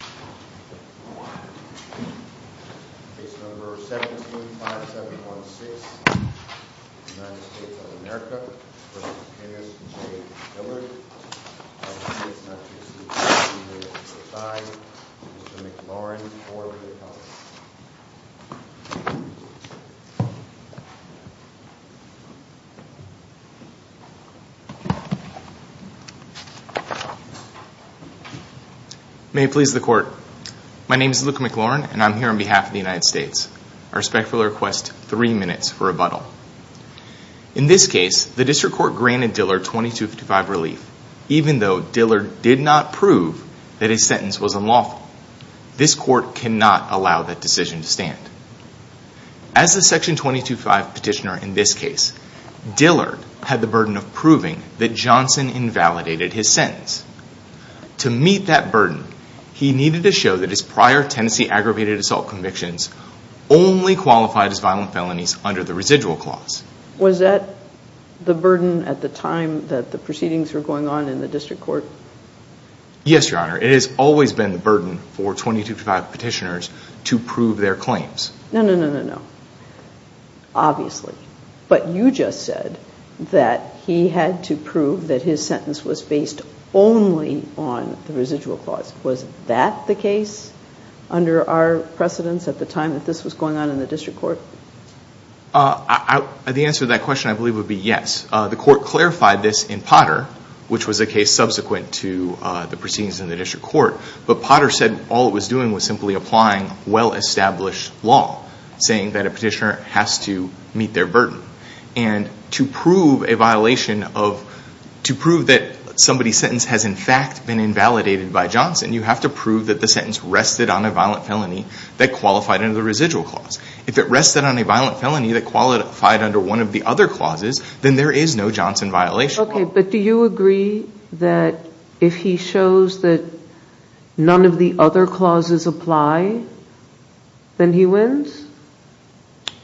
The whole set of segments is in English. V. Mr. McLaurin V. Mr. Dillard My name is Luke McLaurin and I'm here on behalf of the United States. I respectfully request three minutes for rebuttal. In this case, the district court granted Dillard 2255 relief, even though Dillard did not prove that his sentence was unlawful. This court cannot allow that decision to stand. As the Section 225 petitioner in this case, Dillard had the burden of proving that Johnson invalidated his sentence. To meet that burden, he needed to show that his prior tenancy aggravated assault convictions only qualified as violent felonies under the residual clause. Was that the burden at the time that the proceedings were going on in the district court? Yes, Your Honor. It has always been the burden for 2255 petitioners to prove their claims. No, no, no, no, no. Obviously. But you just said that he had to prove that his sentence was based only on the residual clause. Was that the case under our precedence at the time that this was going on in the district court? The answer to that question I believe would be yes. The court clarified this in Potter, which was a case subsequent to the proceedings in the district court. But Potter said all it was doing was simply applying well-established law, saying that a petitioner has to meet their burden. And to prove a violation of, to prove that somebody's sentence has in fact been invalidated by Johnson, you have to prove that the sentence rested on a violent felony that qualified under the residual clause. If it rested on a violent felony that qualified under one of the other clauses, then there is no Johnson violation. Okay. But do you agree that if he shows that none of the other clauses apply, then he wins?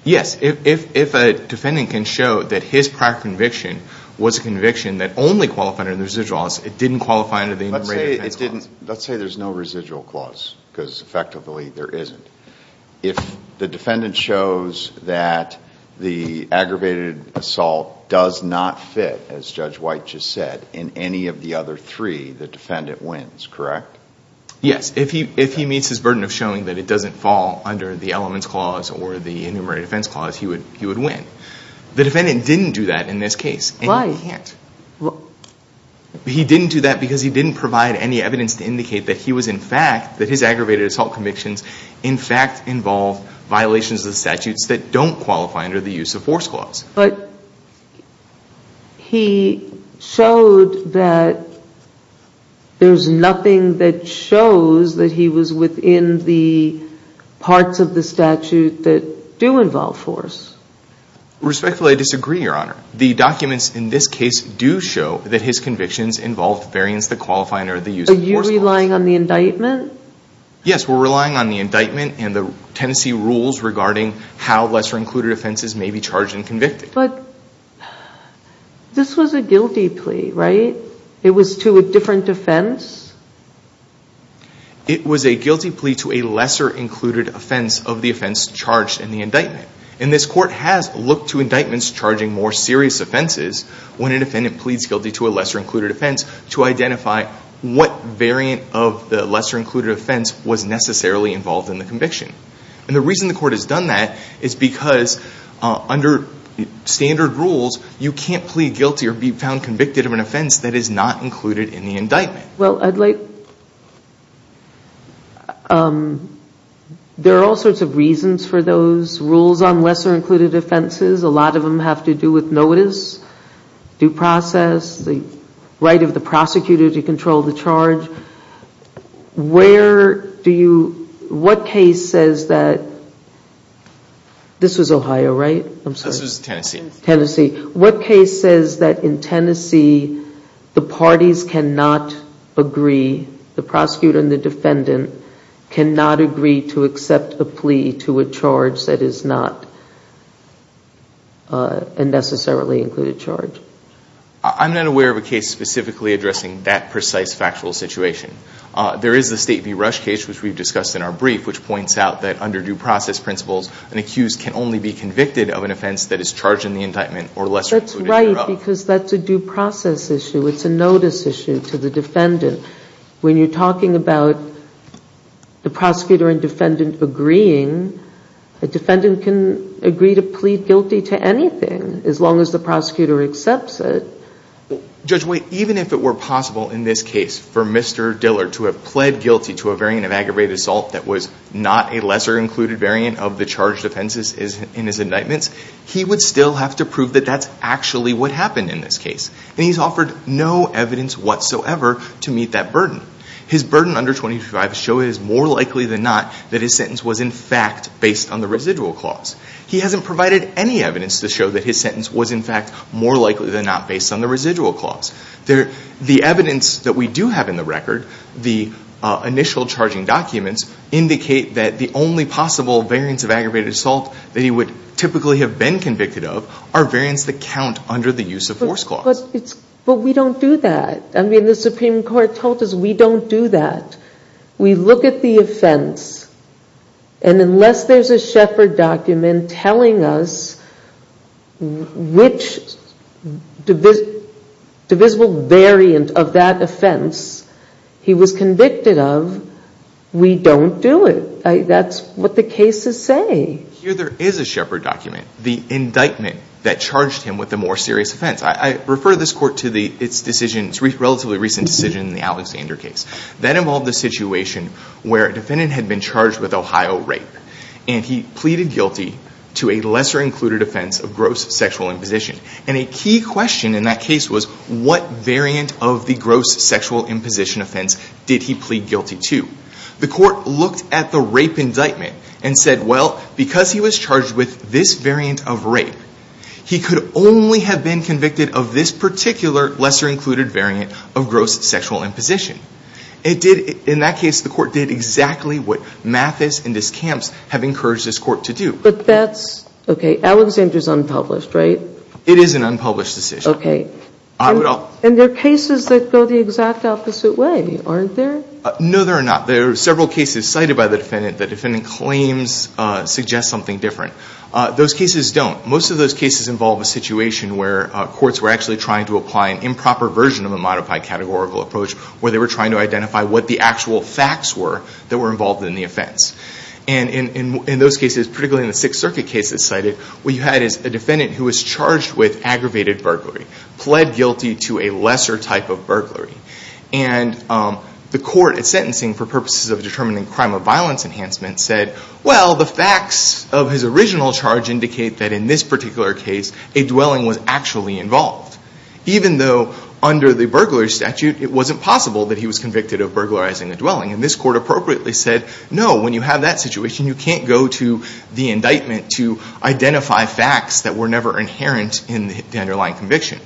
Yes. If a defendant can show that his prior conviction was a conviction that only qualified under the residual clause, it didn't qualify under the enumerated defense clause. Let's say there's no residual clause because effectively there isn't. If the defendant shows that the aggravated assault does not fit, as Judge White just said, in any of the other three, the defendant wins, correct? Yes. If he meets his burden of showing that it doesn't fall under the elements clause or the enumerated defense clause, he would win. The defendant didn't do that in this case. Why? He didn't do that because he didn't provide any evidence to indicate that he was in fact, that his aggravated assault convictions in fact involve violations of the statutes that don't qualify under the use of force clause. But he showed that there's nothing that shows that he was within the parts of the statute that do involve force. Respectfully, I disagree, Your Honor. The documents in this case do show that his convictions involved variance that qualify under the use of force clause. Are you relying on the indictment? Yes, we're relying on the indictment and the Tennessee rules regarding how lesser included offenses may be charged and convicted. But this was a guilty plea, right? It was to a different offense? It was a guilty plea to a lesser included offense of the offense charged in the indictment. And this court has looked to indictments charging more serious offenses when an offendant pleads guilty to a lesser included offense to identify what variant of the lesser included offense was necessarily involved in the conviction. And the reason the court has done that is because under standard rules, you can't plead guilty or be found convicted of an offense that is not included in the indictment. Well, I'd like, there are all sorts of reasons for those rules on lesser included offenses. A lot of them have to do with notice, due process, the right of the prosecutor to control the charge. Where do you, what case says that, this was Ohio, right? This was Tennessee. What case says that in Tennessee, the parties cannot agree, the prosecutor and the defendant cannot agree to accept a plea to a charge that is not a necessarily included charge? I'm not aware of a case specifically addressing that precise factual situation. There is the State v. Rush case, which we've discussed in our brief, which points out that under due process principles, an accused can only be convicted of an offense that is charged in the indictment or lesser included. That's right, because that's a due process issue. It's a notice issue to the defendant. When you're talking about the prosecutor and defendant agreeing, a defendant can agree to plead guilty to anything, as long as the prosecutor accepts it. Judge White, even if it were possible in this case for Mr. Dillard to have plead guilty to a variant of aggravated assault that was not a lesser included variant of the charged offenses in his indictments, he would still have to prove that that's actually what happened in this case. And he's offered no evidence whatsoever to meet that burden. His burden under 25 show is more likely than not that his sentence was in fact based on the residual clause. He hasn't provided any evidence to show that his sentence was in fact more likely than not based on the residual clause. The evidence that we do have in the record, the initial charging documents, indicate that the only possible variants of aggravated assault that he would typically have been convicted of are variants that count under the use of force clause. But we don't do that. I mean, the Supreme Court told us we don't do that. We look at the offense, and unless there's a Shepard document telling us which divisible variant of that offense he was convicted of, we don't do it. That's what the cases say. Here there is a Shepard document, the indictment that charged him with a more serious offense. I refer this Court to its decision, its relatively recent decision in the Alexander case. That involved a situation where a defendant had been charged with Ohio rape, and he pleaded guilty to a lesser-included offense of gross sexual imposition. And a key question in that case was, what variant of the gross sexual imposition offense did he plead guilty to? The Court looked at the rape indictment and said, well, because he was charged with this variant of rape, he could only have been convicted of this particular lesser-included variant of gross sexual imposition. It did, in that case, the Court did exactly what Mathis and his camps have encouraged this Court to do. But that's, okay, Alexander's unpublished, right? It is an unpublished decision. Okay. I would all And there are cases that go the exact opposite way, aren't there? No, there are not. There are several cases cited by the defendant, the defendant claims, suggests something different. Those cases don't. Most of those cases involve a situation where courts were actually trying to apply an improper version of a modified categorical approach, where they were trying to identify what the actual facts were that were involved in the offense. And in those cases, particularly in the Sixth Circuit cases cited, what you had is a defendant who was charged with aggravated burglary, pled guilty to a lesser type of burglary. And the Court, at sentencing, for purposes of determining crime or violence enhancement, said, well, the facts of his original charge indicate that in this particular case, a dwelling was actually involved. Even though under the burglary statute, it wasn't possible that he was convicted of burglarizing a dwelling. And this Court appropriately said, no, when you have that situation, you can't go to the indictment to identify facts that were never inherent in the underlying conviction.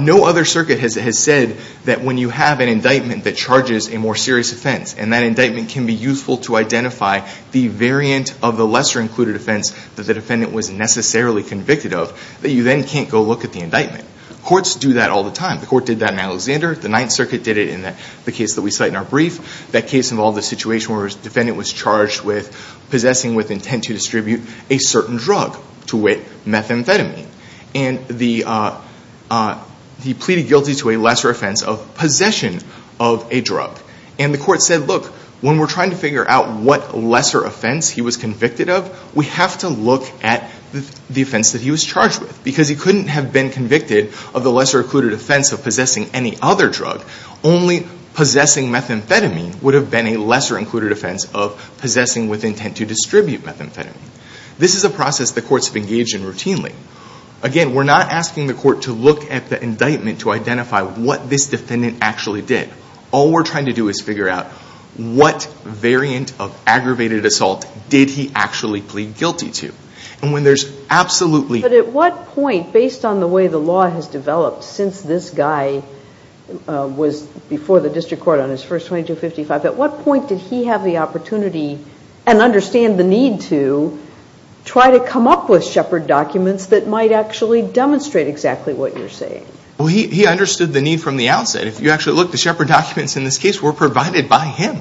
No other circuit has said that when you have an indictment that charges a more serious offense, and that indictment can be useful to identify the variant of the lesser included offense that the defendant was necessarily convicted of, that you then can't go look at the indictment. Courts do that all the time. The Court did that in Alexander. The Ninth Circuit did it in the case that we cite in our brief. That case involved a situation where a defendant was charged with possessing with intent to distribute a certain drug, to wit, methamphetamine. And he pleaded guilty to a lesser offense of possession of a drug. And the Court said, look, when we're trying to figure out what lesser offense he was convicted of, we have to look at the offense that he was charged with. Because he couldn't have been convicted of the lesser included offense of possessing any other drug. Only possessing methamphetamine would have been a lesser included offense of possessing with intent to distribute methamphetamine. This is a process the Courts have engaged in routinely. Again, we're not asking the Court to look at the indictment to identify what this defendant actually did. All we're trying to do is figure out what variant of aggravated assault did he actually plead guilty to. And when there's absolutely... But at what point, based on the way the law has developed since this guy was before the District Court on his first 2255, at what point did he have the opportunity and understand the need to try to come up with Shepard documents that might actually demonstrate exactly what you're saying? He understood the need from the outset. If you actually look, the Shepard documents in this case were provided by him.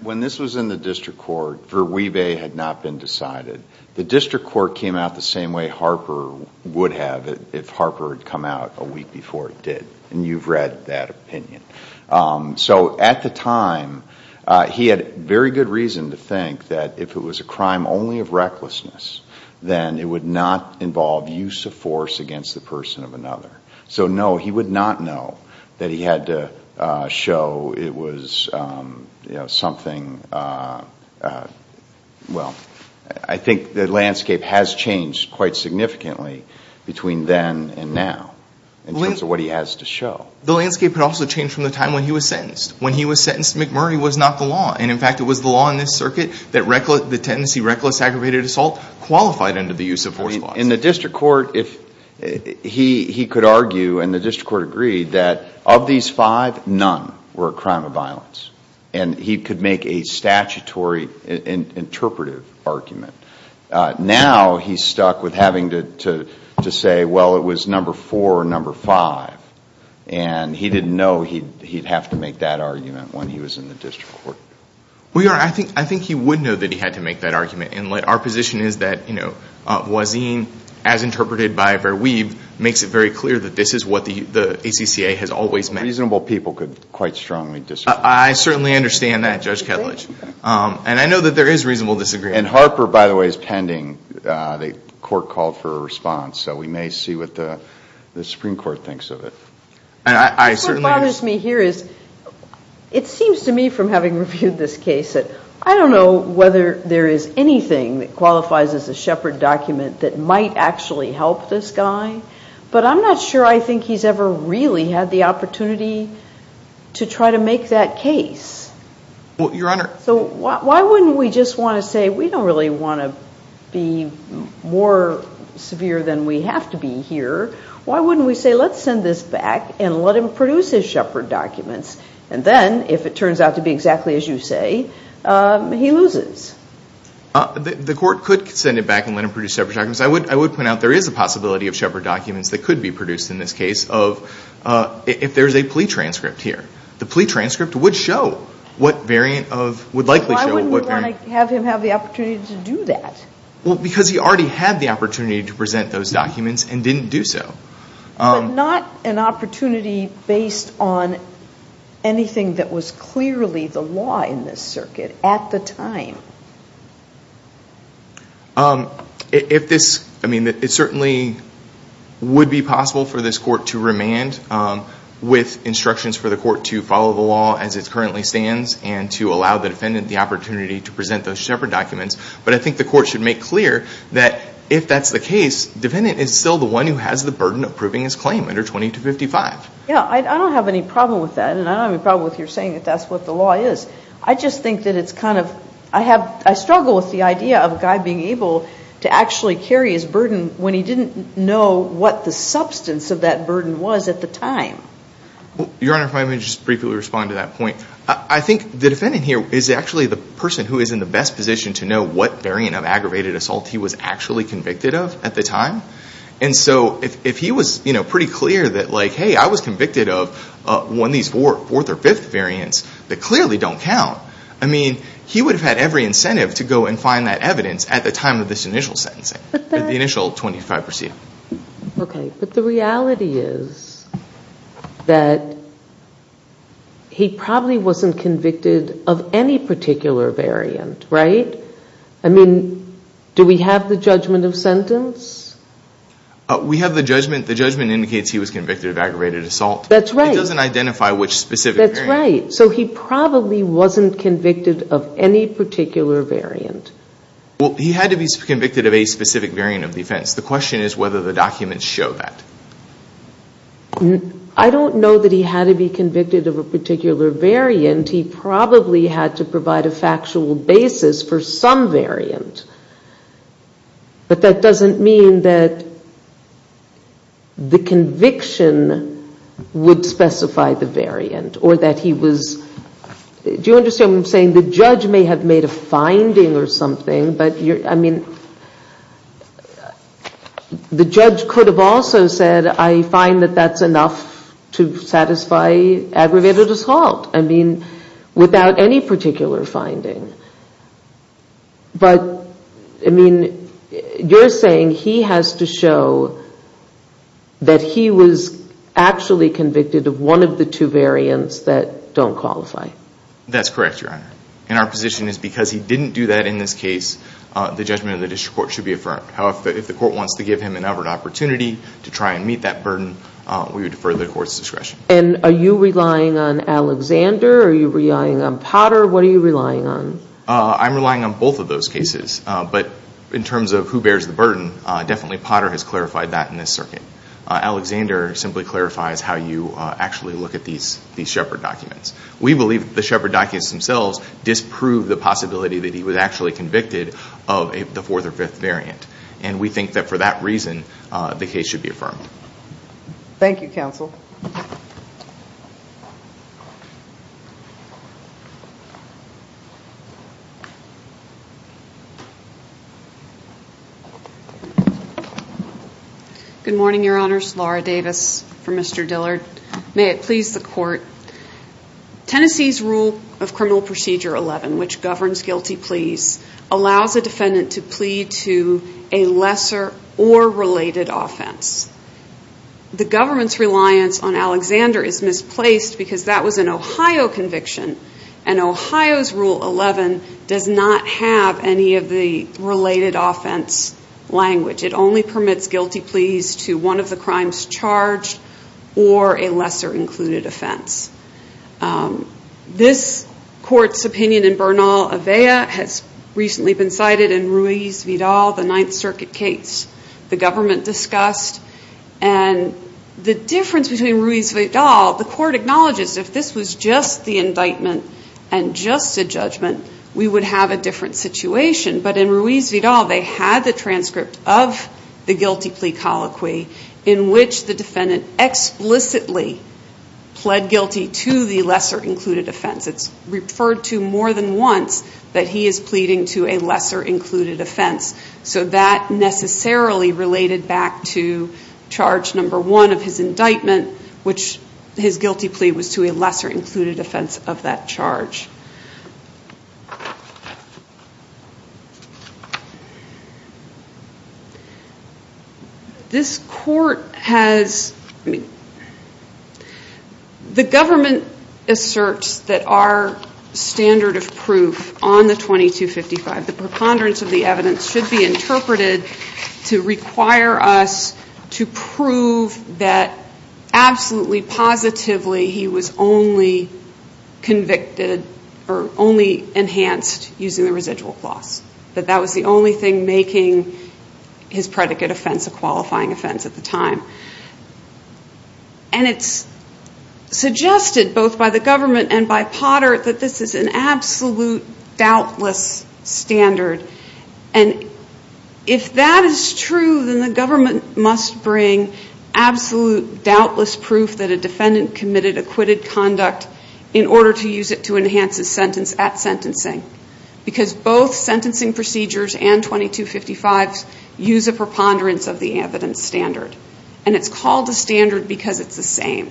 When this was in the District Court, Verweeve had not been decided. The District Court came out the same way Harper would have if Harper had come out a week before it did. And you've had very good reason to think that if it was a crime only of recklessness, then it would not involve use of force against the person of another. So, no, he would not know that he had to show it was, you know, something... Well, I think the landscape has changed quite significantly between then and now in terms of what he has to show. The landscape had also changed from the time when he was sentenced. When he was sentenced, McMurray was not the law. And in fact, it was the law in this circuit that the tendency reckless aggravated assault qualified under the use of force laws. In the District Court, he could argue, and the District Court agreed, that of these five, none were a crime of violence. And he could make a statutory interpretive argument. Now he's stuck with having to say, well, it was number four or number five. And he didn't know he'd have to make that argument when he was in the District Court. We are. I think he would know that he had to make that argument. And our position is that, you know, Voisin, as interpreted by Verweeve, makes it very clear that this is what the ACCA has always meant. Reasonable people could quite strongly disagree. I certainly understand that, Judge Ketledge. And I know that there is reasonable disagreement. And Harper, by the way, is pending. The court called for a response. So we may see what the Supreme Court thinks of it. What bothers me here is, it seems to me, from having reviewed this case, that I don't know whether there is anything that qualifies as a Shepard document that might actually help this guy. But I'm not sure I think he's ever really had the opportunity to try to make that case. Well, Your Honor. So why wouldn't we just want to say, we don't really want to be more severe than we have to be here. Why wouldn't we say, let's send this back and let him produce his Shepard documents. And then, if it turns out to be exactly as you say, he loses. The court could send it back and let him produce Shepard documents. I would point out there is a possibility of Shepard documents that could be produced in this case of, if there's a plea transcript here, the plea transcript would show what variant of, would likely show what variant. Why wouldn't we want to have him have the opportunity to do that? Well, because he already had the opportunity to present those documents and didn't do so. Not an opportunity based on anything that was clearly the law in this circuit at the time. If this, I mean, it certainly would be possible for this court to remand with instructions for the court to follow the law as it currently stands and to allow the defendant the opportunity to present those Shepard documents. But I think the court should make clear that if that's the case, the defendant is still the one who has the burden of proving his claim under 2255. Yeah, I don't have any problem with that. And I don't have any problem with you saying that that's what the law is. I just think that it's kind of, I struggle with the idea of a guy being able to actually carry his burden when he didn't know what the substance of that burden was at the time. Your Honor, if I may just briefly respond to that point. I think the defendant here is actually the person who is in the best position to know what variant of aggravated assault he was actually convicted of at the time. And so if he was pretty clear that like, convicted of one of these fourth or fifth variants that clearly don't count, I mean, he would have had every incentive to go and find that evidence at the time of this initial sentencing, at the initial 2255 proceeding. Okay, but the reality is that he probably wasn't convicted of any particular variant, right? I mean, do we have the judgment of sentence? We have the judgment. The judgment indicates he was convicted of aggravated assault. That's right. It doesn't identify which specific variant. That's right. So he probably wasn't convicted of any particular variant. Well, he had to be convicted of a specific variant of the offense. The question is whether the documents show that. I don't know that he had to be convicted of a particular variant. He probably had to provide a factual basis for some variant. But that doesn't mean that the conviction would specify the variant or that he was. Do you understand what I'm saying? The judge may have made a finding or something, but I mean, the judge could have also said, I find that that's enough to satisfy aggravated assault. I mean, without any particular finding. But, I mean, you're saying he has to show that he was actually convicted of one of the two variants that don't qualify. That's correct, Your Honor. And our position is because he didn't do that in this case, the judgment of the district court should be affirmed. However, if the court wants to give him another opportunity to try and meet that burden, we would defer the court's discretion. And are you relying on Alexander? Are you relying on Potter? What are you relying on? I'm relying on both of those cases. But in terms of who bears the burden, definitely Potter has clarified that in this circuit. Alexander simply clarifies how you actually look at these Shepard documents. We believe the Shepard documents themselves disprove the possibility that he was actually convicted of the fourth or fifth variant. And we think that for that reason, the case should be affirmed. Thank you, Counsel. Good morning, Your Honors. Laura Davis for Mr. Dillard. May it please the Court, Tennessee's rule of Criminal Procedure 11, which governs guilty pleas, allows a defendant to plead guilty to a lesser or related offense. The government's reliance on Alexander is misplaced because that was an Ohio conviction. And Ohio's rule 11 does not have any of the related offense language. It only permits guilty pleas to one of the crimes charged or a lesser included offense. This Court's opinion in Bernal-Avella has recently been cited in Ruiz-Vidal, the Ninth Circuit case the government discussed. And the difference between Ruiz-Vidal, the Court acknowledges if this was just the indictment and just a judgment, we would have a different situation. But in Ruiz-Vidal, they had the transcript of the guilty plea colloquy in which the defendant explicitly pled guilty to the lesser included offense. It's referred to more than once that he is pleading to a lesser included offense. So that necessarily related back to charge number one of his indictment, which his guilty plea was to a lesser included offense of that charge. This Court has, the government asserts that our standard of proof on the 2255, the preponderance of the evidence should be interpreted to require us to prove that absolutely, positively, he was only convicted or only enhanced using the residual clause. That that was the only thing making his predicate offense a qualifying offense at the time. And it's suggested both by the government and by Potter that this is an absolute doubtless standard. And if that is true, then the government must bring absolute doubtless proof that a defendant committed acquitted conduct in order to use it to enhance his sentence at sentencing. Because both sentencing procedures and 2255s use a preponderance of the evidence standard. And it's called a standard because it's the same.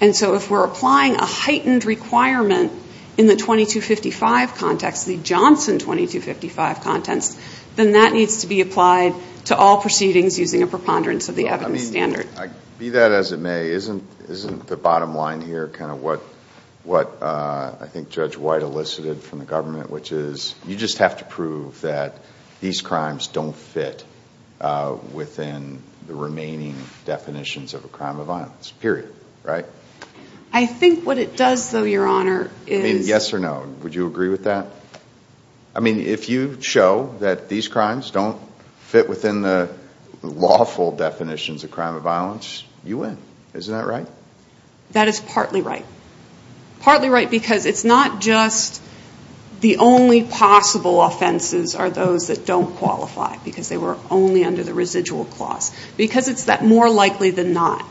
And so if we're applying a heightened requirement in the 2255 context, the Johnson 2255 context, then that needs to be applied to all proceedings using a preponderance of the evidence standard. I mean, be that as it may, isn't the bottom line here kind of what I think Judge White elicited from the government, which is you just have to prove that these crimes don't fit within the remaining definitions of a crime of violence, period, right? I think what it does, though, Your Honor, is... I mean, yes or no. Would you agree with that? I mean, if you show that these crimes don't fit within the lawful definitions of crime of violence, you win. Isn't that right? That is partly right. Partly right because it's not just the only possible offenses are those that don't qualify because they were only under the residual clause. Because it's that more likely than not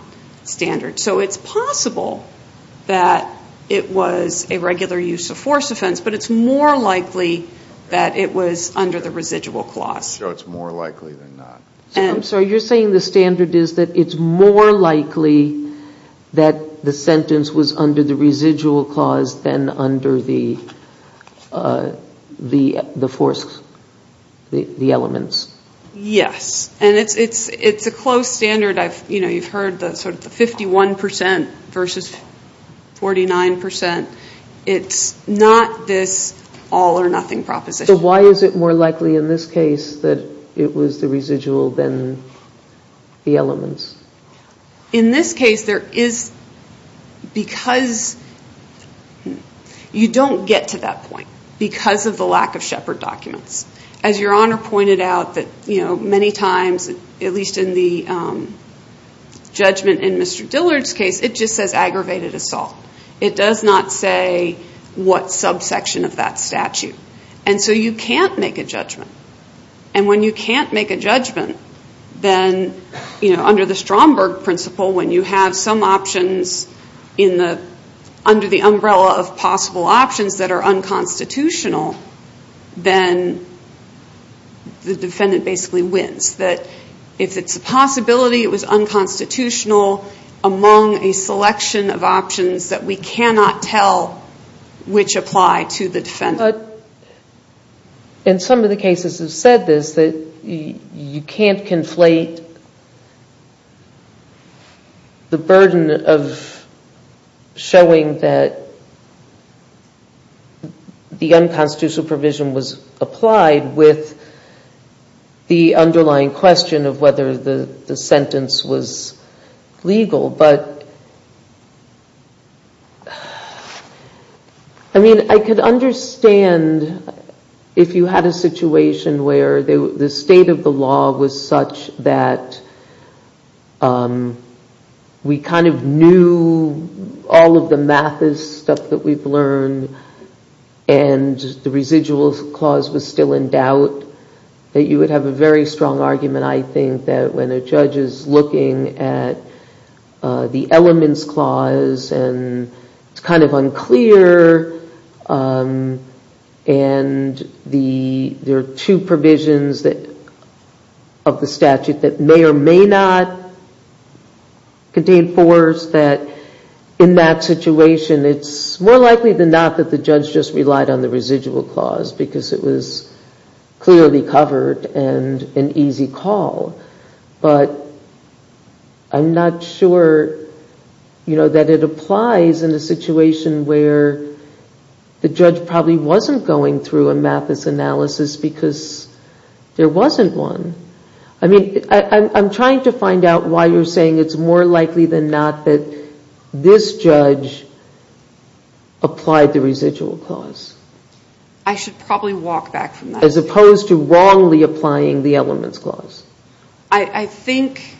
standard. So it's possible that it was a regular use of force offense, but it's more likely that it was under the residual clause. So it's more likely than not. I'm sorry. You're saying the standard is that it's more likely that the sentence was under the residual clause than under the force, the elements? Yes. And it's a close standard. You've heard the 51% versus 49%. It's not this all or nothing proposition. So why is it more likely in this case that it was the residual than the elements? In this case, there is... Because you don't get to that point because of the lack of Shepherd documents. As Your Honor pointed out that many times, at least in the judgment in Mr. Dillard's case, it just says aggravated assault. It does not say what subsection of that statute. And so you can't make a judgment. And when you can't make a judgment, then under the Stromberg principle, when you have some options under the umbrella of possible options that are unconstitutional, then the defendant basically wins. That if it's a possibility it was unconstitutional among a selection of options that we cannot tell which apply to the defendant. But in some of the cases have said this, you can't conflate the burden of showing that the unconstitutional provision was applied with the underlying question of whether the sentence was legal. I mean, I could understand if you had a situation where the state of the law was such that we kind of knew all of the math stuff that we've learned and the residual clause was still in doubt that you would have a very strong argument. I think that when a judge is looking at the elements clause and it's kind of unclear and there are two provisions that of the statute that may or may not contain force that in that situation it's more likely than not that the judge just relied on the residual clause because it was clearly covered and an easy call. But I'm not sure that it applies in a situation where the judge probably wasn't going through a math analysis because there wasn't one. I mean, I'm trying to find out why you're saying it's more likely than not that this judge applied the residual clause. I should probably walk back from that. As opposed to wrongly applying the elements clause. I think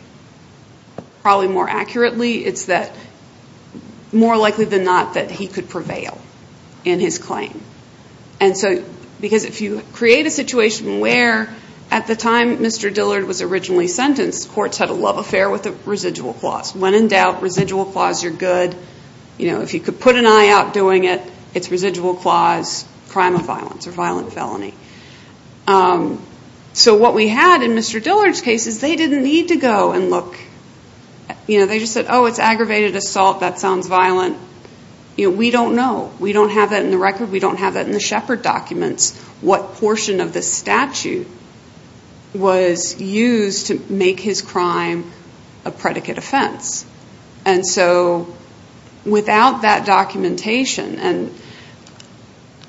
probably more accurately it's that more likely than not that he could prevail in his claim. And so because if you create a situation where at the time Mr. Dillard was originally sentenced courts had a love affair with the residual clause. When in doubt, residual clause, you're good. You know, if you could put an eye out doing it, it's residual clause, crime of violence or violent felony. So what we had in Mr. Dillard's case is they didn't need to go and look. You know, they just said, oh, it's aggravated assault, that sounds violent. We don't know. We don't have that in the record. We don't have that in the Shepard documents, what portion of the statute was used to make his crime a predicate offense. And so without that documentation and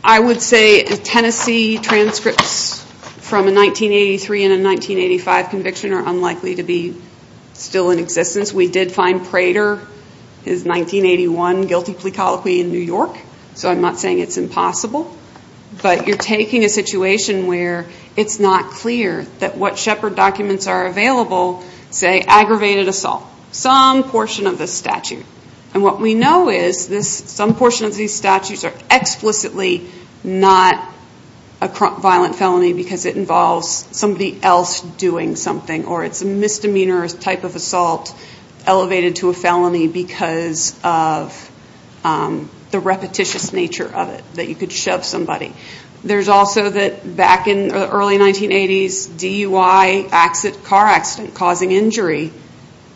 I would say Tennessee transcripts from a 1983 and a 1985 conviction are unlikely to be still in existence. We did find Prater, his 1981 guilty plea colloquy in New York. So I'm not saying it's impossible. But you're taking a situation where it's not clear that what Shepard documents are available say aggravated assault, some portion of the statute. And what we know is some portion of these statutes are explicitly not a violent felony because it involves somebody else doing something or it's a misdemeanor type of assault elevated to a felony because of the repetitious nature of it that you could shove somebody. There's also that early 1980s DUI car accident causing injury,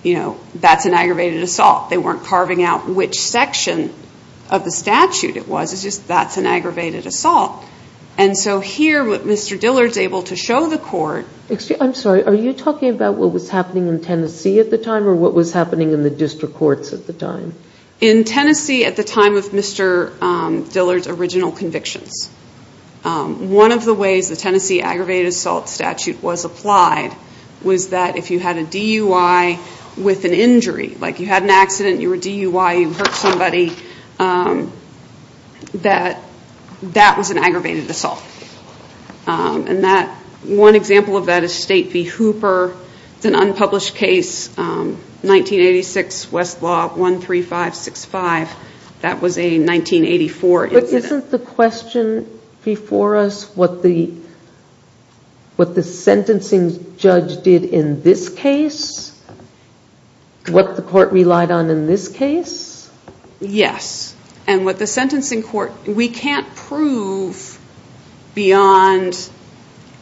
you know, that's an aggravated assault. They weren't carving out which section of the statute it was. It's just that's an aggravated assault. And so here what Mr. Dillard's able to show the court. JANET WUENDEL. I'm sorry, are you talking about what was happening in Tennessee at the time or what was happening in the district courts at the time? NANCY LYNCH. In Tennessee at the time of Mr. Dillard's original convictions. One of the ways the Tennessee aggravated assault statute was applied was that if you had a DUI with an injury, like you had an accident, you were DUI, you hurt somebody, that that was an aggravated assault. And that one example of that is State v. Hooper. It's an unpublished case, 1986 Westlaw 13565. That was a 1984. JANET WUENDEL. Isn't the question before us what the sentencing judge did in this case? What the court relied on in this case? NANCY LYNCH. Yes. And what the sentencing court, we can't prove beyond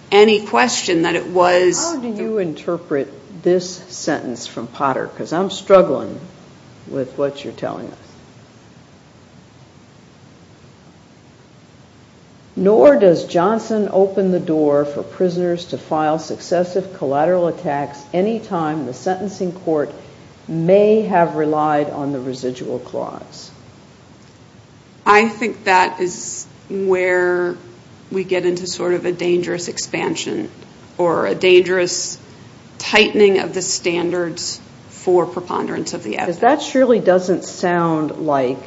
any question that it was. JANET WUENDEL. How do you interpret this sentence from Potter? Because I'm struggling with what you're telling us. NANCY LYNCH. Nor does Johnson open the door for prisoners to file successive collateral attacks any time the sentencing court may have relied on the residual clause. JANET WUENDEL. I think that is where we get into sort of a dangerous expansion or a dangerous tightening of the standards for preponderance of the evidence. That surely doesn't sound like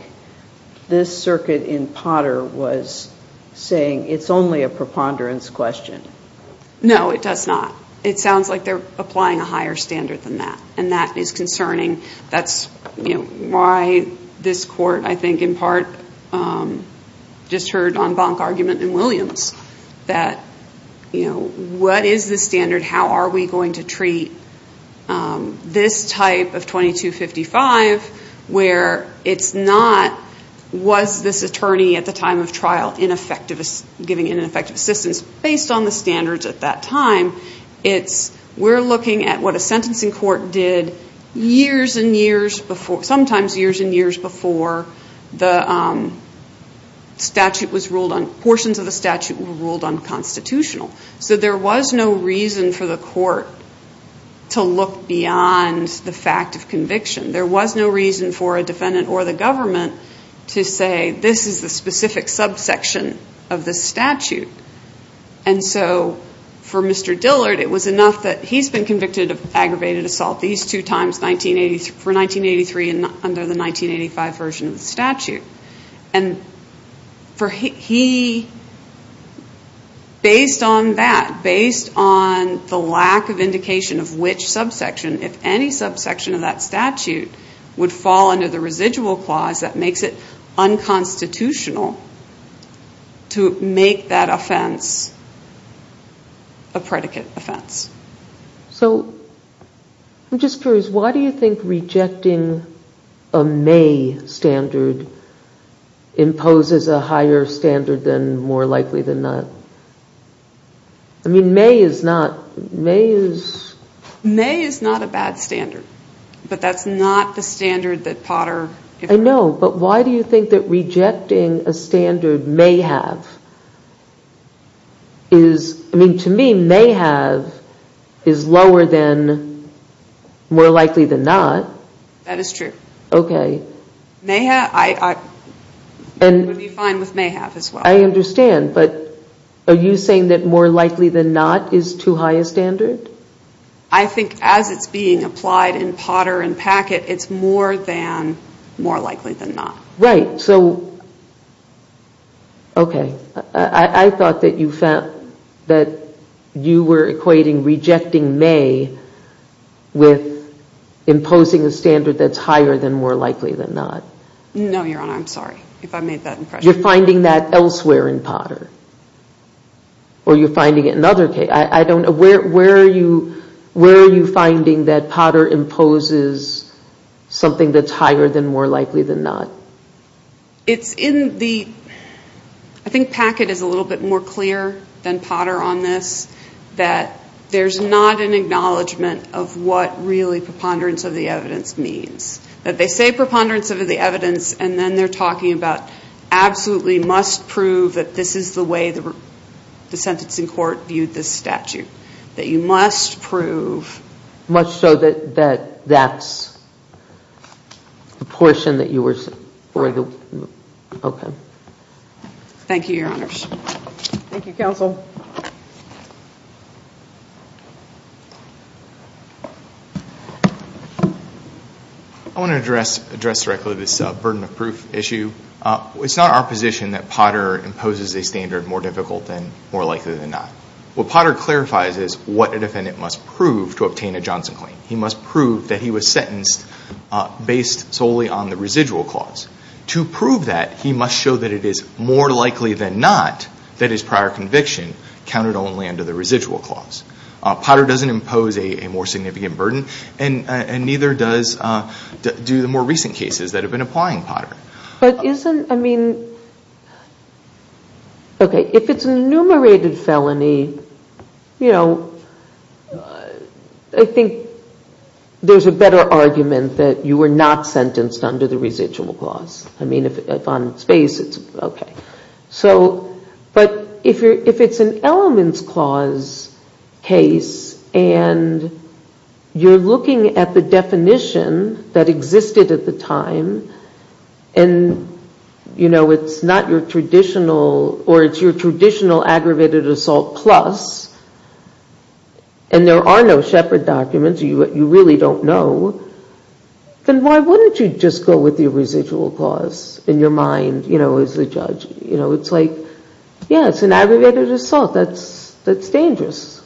this circuit in Potter was saying it's only a preponderance question. NANCY LYNCH. No, it does not. It sounds like they're applying a higher standard than that. And that is concerning. That's why this court, I think, in part just heard on Bonk argument and Williams that, you know, what is the standard? How are we going to treat this type of 2255 where it's not, was this attorney at the time of trial giving ineffective assistance? Based on the standards at that time, we're looking at what a sentencing court did years and years before, sometimes years and years before the statute was ruled on, portions of the statute were ruled unconstitutional. So there was no reason for the court to look beyond the fact of conviction. There was no reason for a defendant or the government to say, this is the specific subsection of the statute. And so for Mr. Dillard, it was enough that he's been convicted of aggravated assault these two times for 1983 and under the 1985 version of the statute. And for he, based on that, based on the lack of indication of which subsection, if any subsection of that statute would fall under the residual clause, that makes it unconstitutional to make that offense a predicate offense. So I'm just curious, why do you think rejecting a may standard imposes a higher standard than more likely than not? I mean, may is not, may is... May is not a bad standard, but that's not the standard that Potter... I know, but why do you think that rejecting a standard may have is, I mean, to me, may have is lower than more likely than not. That is true. Okay. May have, I would be fine with may have as well. I understand, but are you saying that more likely than not is too high a standard? I think as it's being applied in Potter and Packett, it's more than more likely than not. Right. So, okay. I thought that you felt that you were equating rejecting may with imposing a standard that's higher than more likely than not. No, Your Honor, I'm sorry if I made that impression. You're finding that elsewhere in Potter, or you're finding it in other cases. I don't know, where are you finding that Potter imposes something that's higher than more likely than not? It's in the, I think Packett is a little bit more clear than Potter on this, that there's not an acknowledgement of what really preponderance of the evidence means. That they say preponderance of the evidence, and then they're talking about absolutely must prove that this is the way the sentencing court viewed this statute. That you must prove... Okay. Thank you, Your Honors. Thank you, counsel. I want to address directly this burden of proof issue. It's not our position that Potter imposes a standard more difficult than more likely than not. What Potter clarifies is what a defendant must prove to obtain a Johnson claim. He must prove that he was sentenced based solely on the residual clause. To prove that, he must show that it is more likely than not that his prior conviction counted only under the residual clause. Potter doesn't impose a more significant burden, and neither does do the more recent cases that have been applying Potter. But isn't, I mean... Okay, if it's an enumerated felony, you know, I think there's a better argument that you were not sentenced under the residual clause. I mean, if on its face, it's okay. But if it's an elements clause case, and you're looking at the definition that existed at the time, and, you know, it's not your traditional, or it's your traditional aggravated assault plus, and there are no Shepard documents, you really don't know, then why wouldn't you just go with the residual clause in your mind, you know, as the judge? You know, it's like, yeah, it's an aggravated assault. That's dangerous.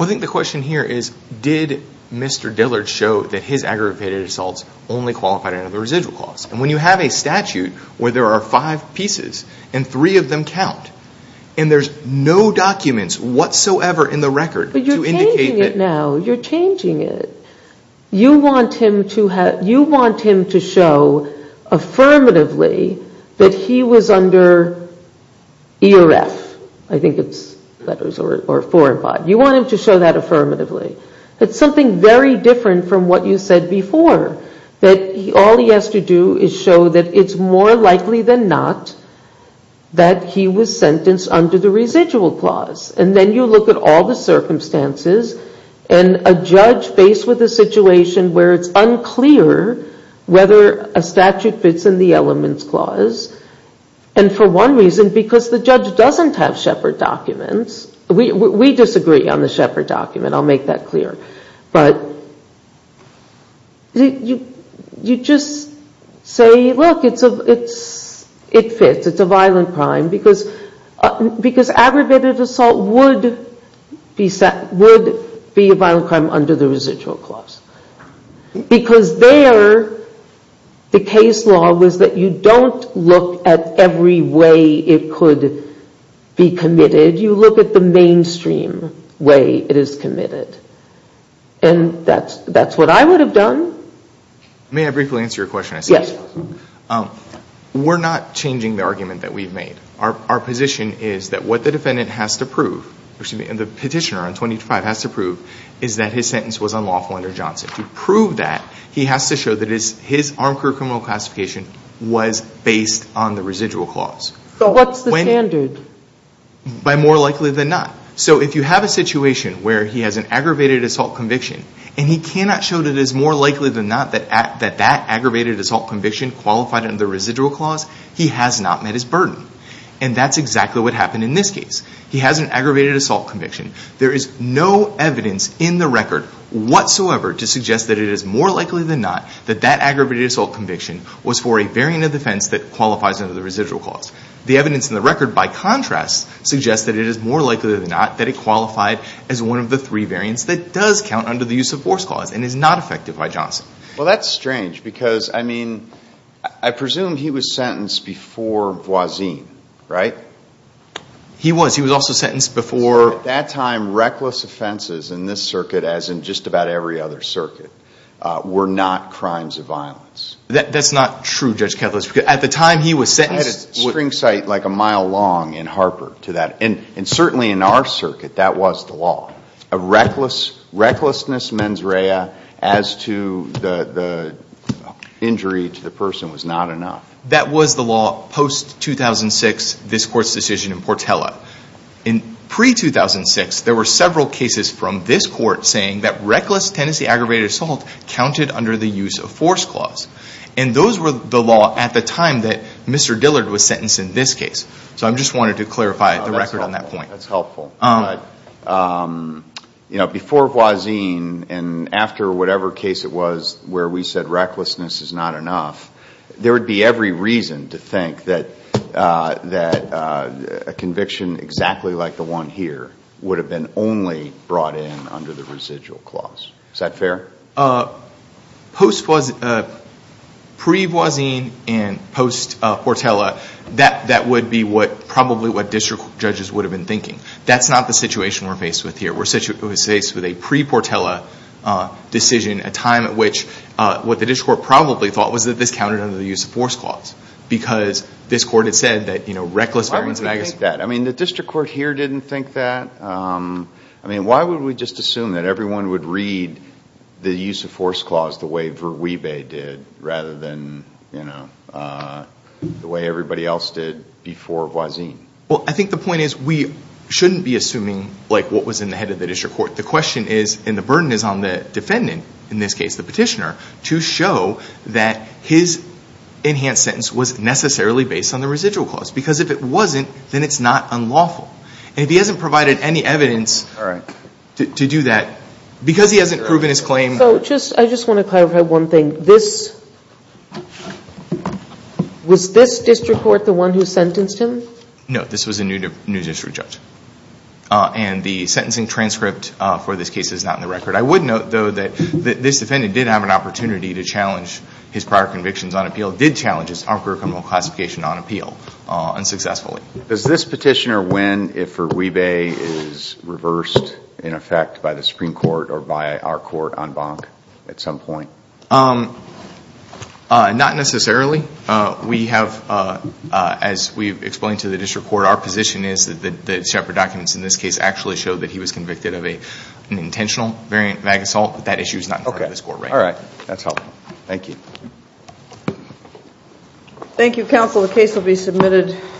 I think the question here is, did Mr. Dillard show that his aggravated assaults only qualified under the residual clause? And when you have a statute where there are five pieces, and three of them count, and there's no documents whatsoever in the record... But you're changing it now. You're changing it. You want him to show affirmatively that he was under E or F. I think it's letters or four or five. You want him to show that affirmatively. It's something very different from what you said before, that all he has to do is show that it's more likely than not that he was sentenced under the residual clause. And then you look at all the circumstances, and a judge faced with a situation where it's unclear whether a statute fits in the elements clause, and for one reason, because the judge doesn't have Shepard documents. We disagree on the Shepard document. I'll make that clear. But you just say, look, it fits. It's a violent crime, because aggravated assault would be a violent crime under the residual clause. Because there, the case law was that you don't look at every way it could be committed. You look at the mainstream way it is committed. And that's what I would have done. May I briefly answer your question? Yes. We're not changing the argument that we've made. Our position is that what the defendant has to prove, or excuse me, the petitioner on 25 has to prove, is that his sentence was unlawful under Johnson. To prove that, he has to show that his armed career criminal classification was based on the residual clause. So what's the standard? By more likely than not. So if you have a situation where he has an aggravated assault conviction, and he cannot show that it is more likely than not that that aggravated assault conviction qualified under the residual clause, he has not met his burden. And that's exactly what happened in this case. He has an aggravated assault conviction. There is no evidence in the record whatsoever to suggest that it is more likely than not that that aggravated assault conviction was for a variant of defense that qualifies under the residual clause. The evidence in the record, by contrast, suggests that it is more likely than not that it qualified as one of the three variants that does count under the use of force clause and is not affected by Johnson. Well, that's strange because, I mean, I presume he was sentenced before Voisin, right? He was. He was also sentenced before... At that time, reckless offenses in this circuit, as in just about every other circuit, were not crimes of violence. That's not true, Judge Kethledge. At the time he was sentenced... I had a spring sight like a mile long in Harper to that. And certainly in our circuit, that was the law. A recklessness mens rea as to the injury to the person was not enough. That was the law post-2006, this Court's decision in Portela. In pre-2006, there were several cases from this Court saying that reckless tendency aggravated assault counted under the use of force clause. And those were the law at the time that Mr. Dillard was sentenced in this case. So I just wanted to clarify the record on that point. That's helpful. Before Voisin and after whatever case it was where we said recklessness is not enough, there would be every reason to think that a conviction exactly like the one here would have been only brought in under the residual clause. Is that fair? Post-pre-Voisin and post-Portela, that would be probably what district judges would have been thinking. That's not the situation we're faced with here. We're faced with a pre-Portela decision, a time at which what the district court probably thought was that this counted under the use of force clause. Because this Court had said that reckless... Why would we think that? I mean, the district court here didn't think that. I mean, why would we just assume that everyone would read the use of force clause the way Verweebe did rather than the way everybody else did before Voisin? Well, I think the point is we shouldn't be assuming what was in the head of the district court. The question is, and the burden is on the defendant, in this case the petitioner, to show that his enhanced sentence was necessarily based on the residual clause. Because if it wasn't, then it's not unlawful. And if he hasn't provided any evidence to do that, because he hasn't proven his claim... So, I just want to clarify one thing. Was this district court the one who sentenced him? No, this was a new district judge. And the sentencing transcript for this case is not in the record. I would note, though, that this defendant did have an opportunity to challenge his prior convictions on appeal, did challenge his upper criminal classification on appeal unsuccessfully. Does this petitioner win if Verweebe is reversed in effect by the Supreme Court or by our court on Bonk at some point? Not necessarily. We have, as we explained to the district court, our position is that the Shepard documents in this case actually show that he was convicted of an intentional variant of mag assault. But that issue is not part of the score, right? All right. That's helpful. Thank you. Thank you, counsel. The case will be submitted.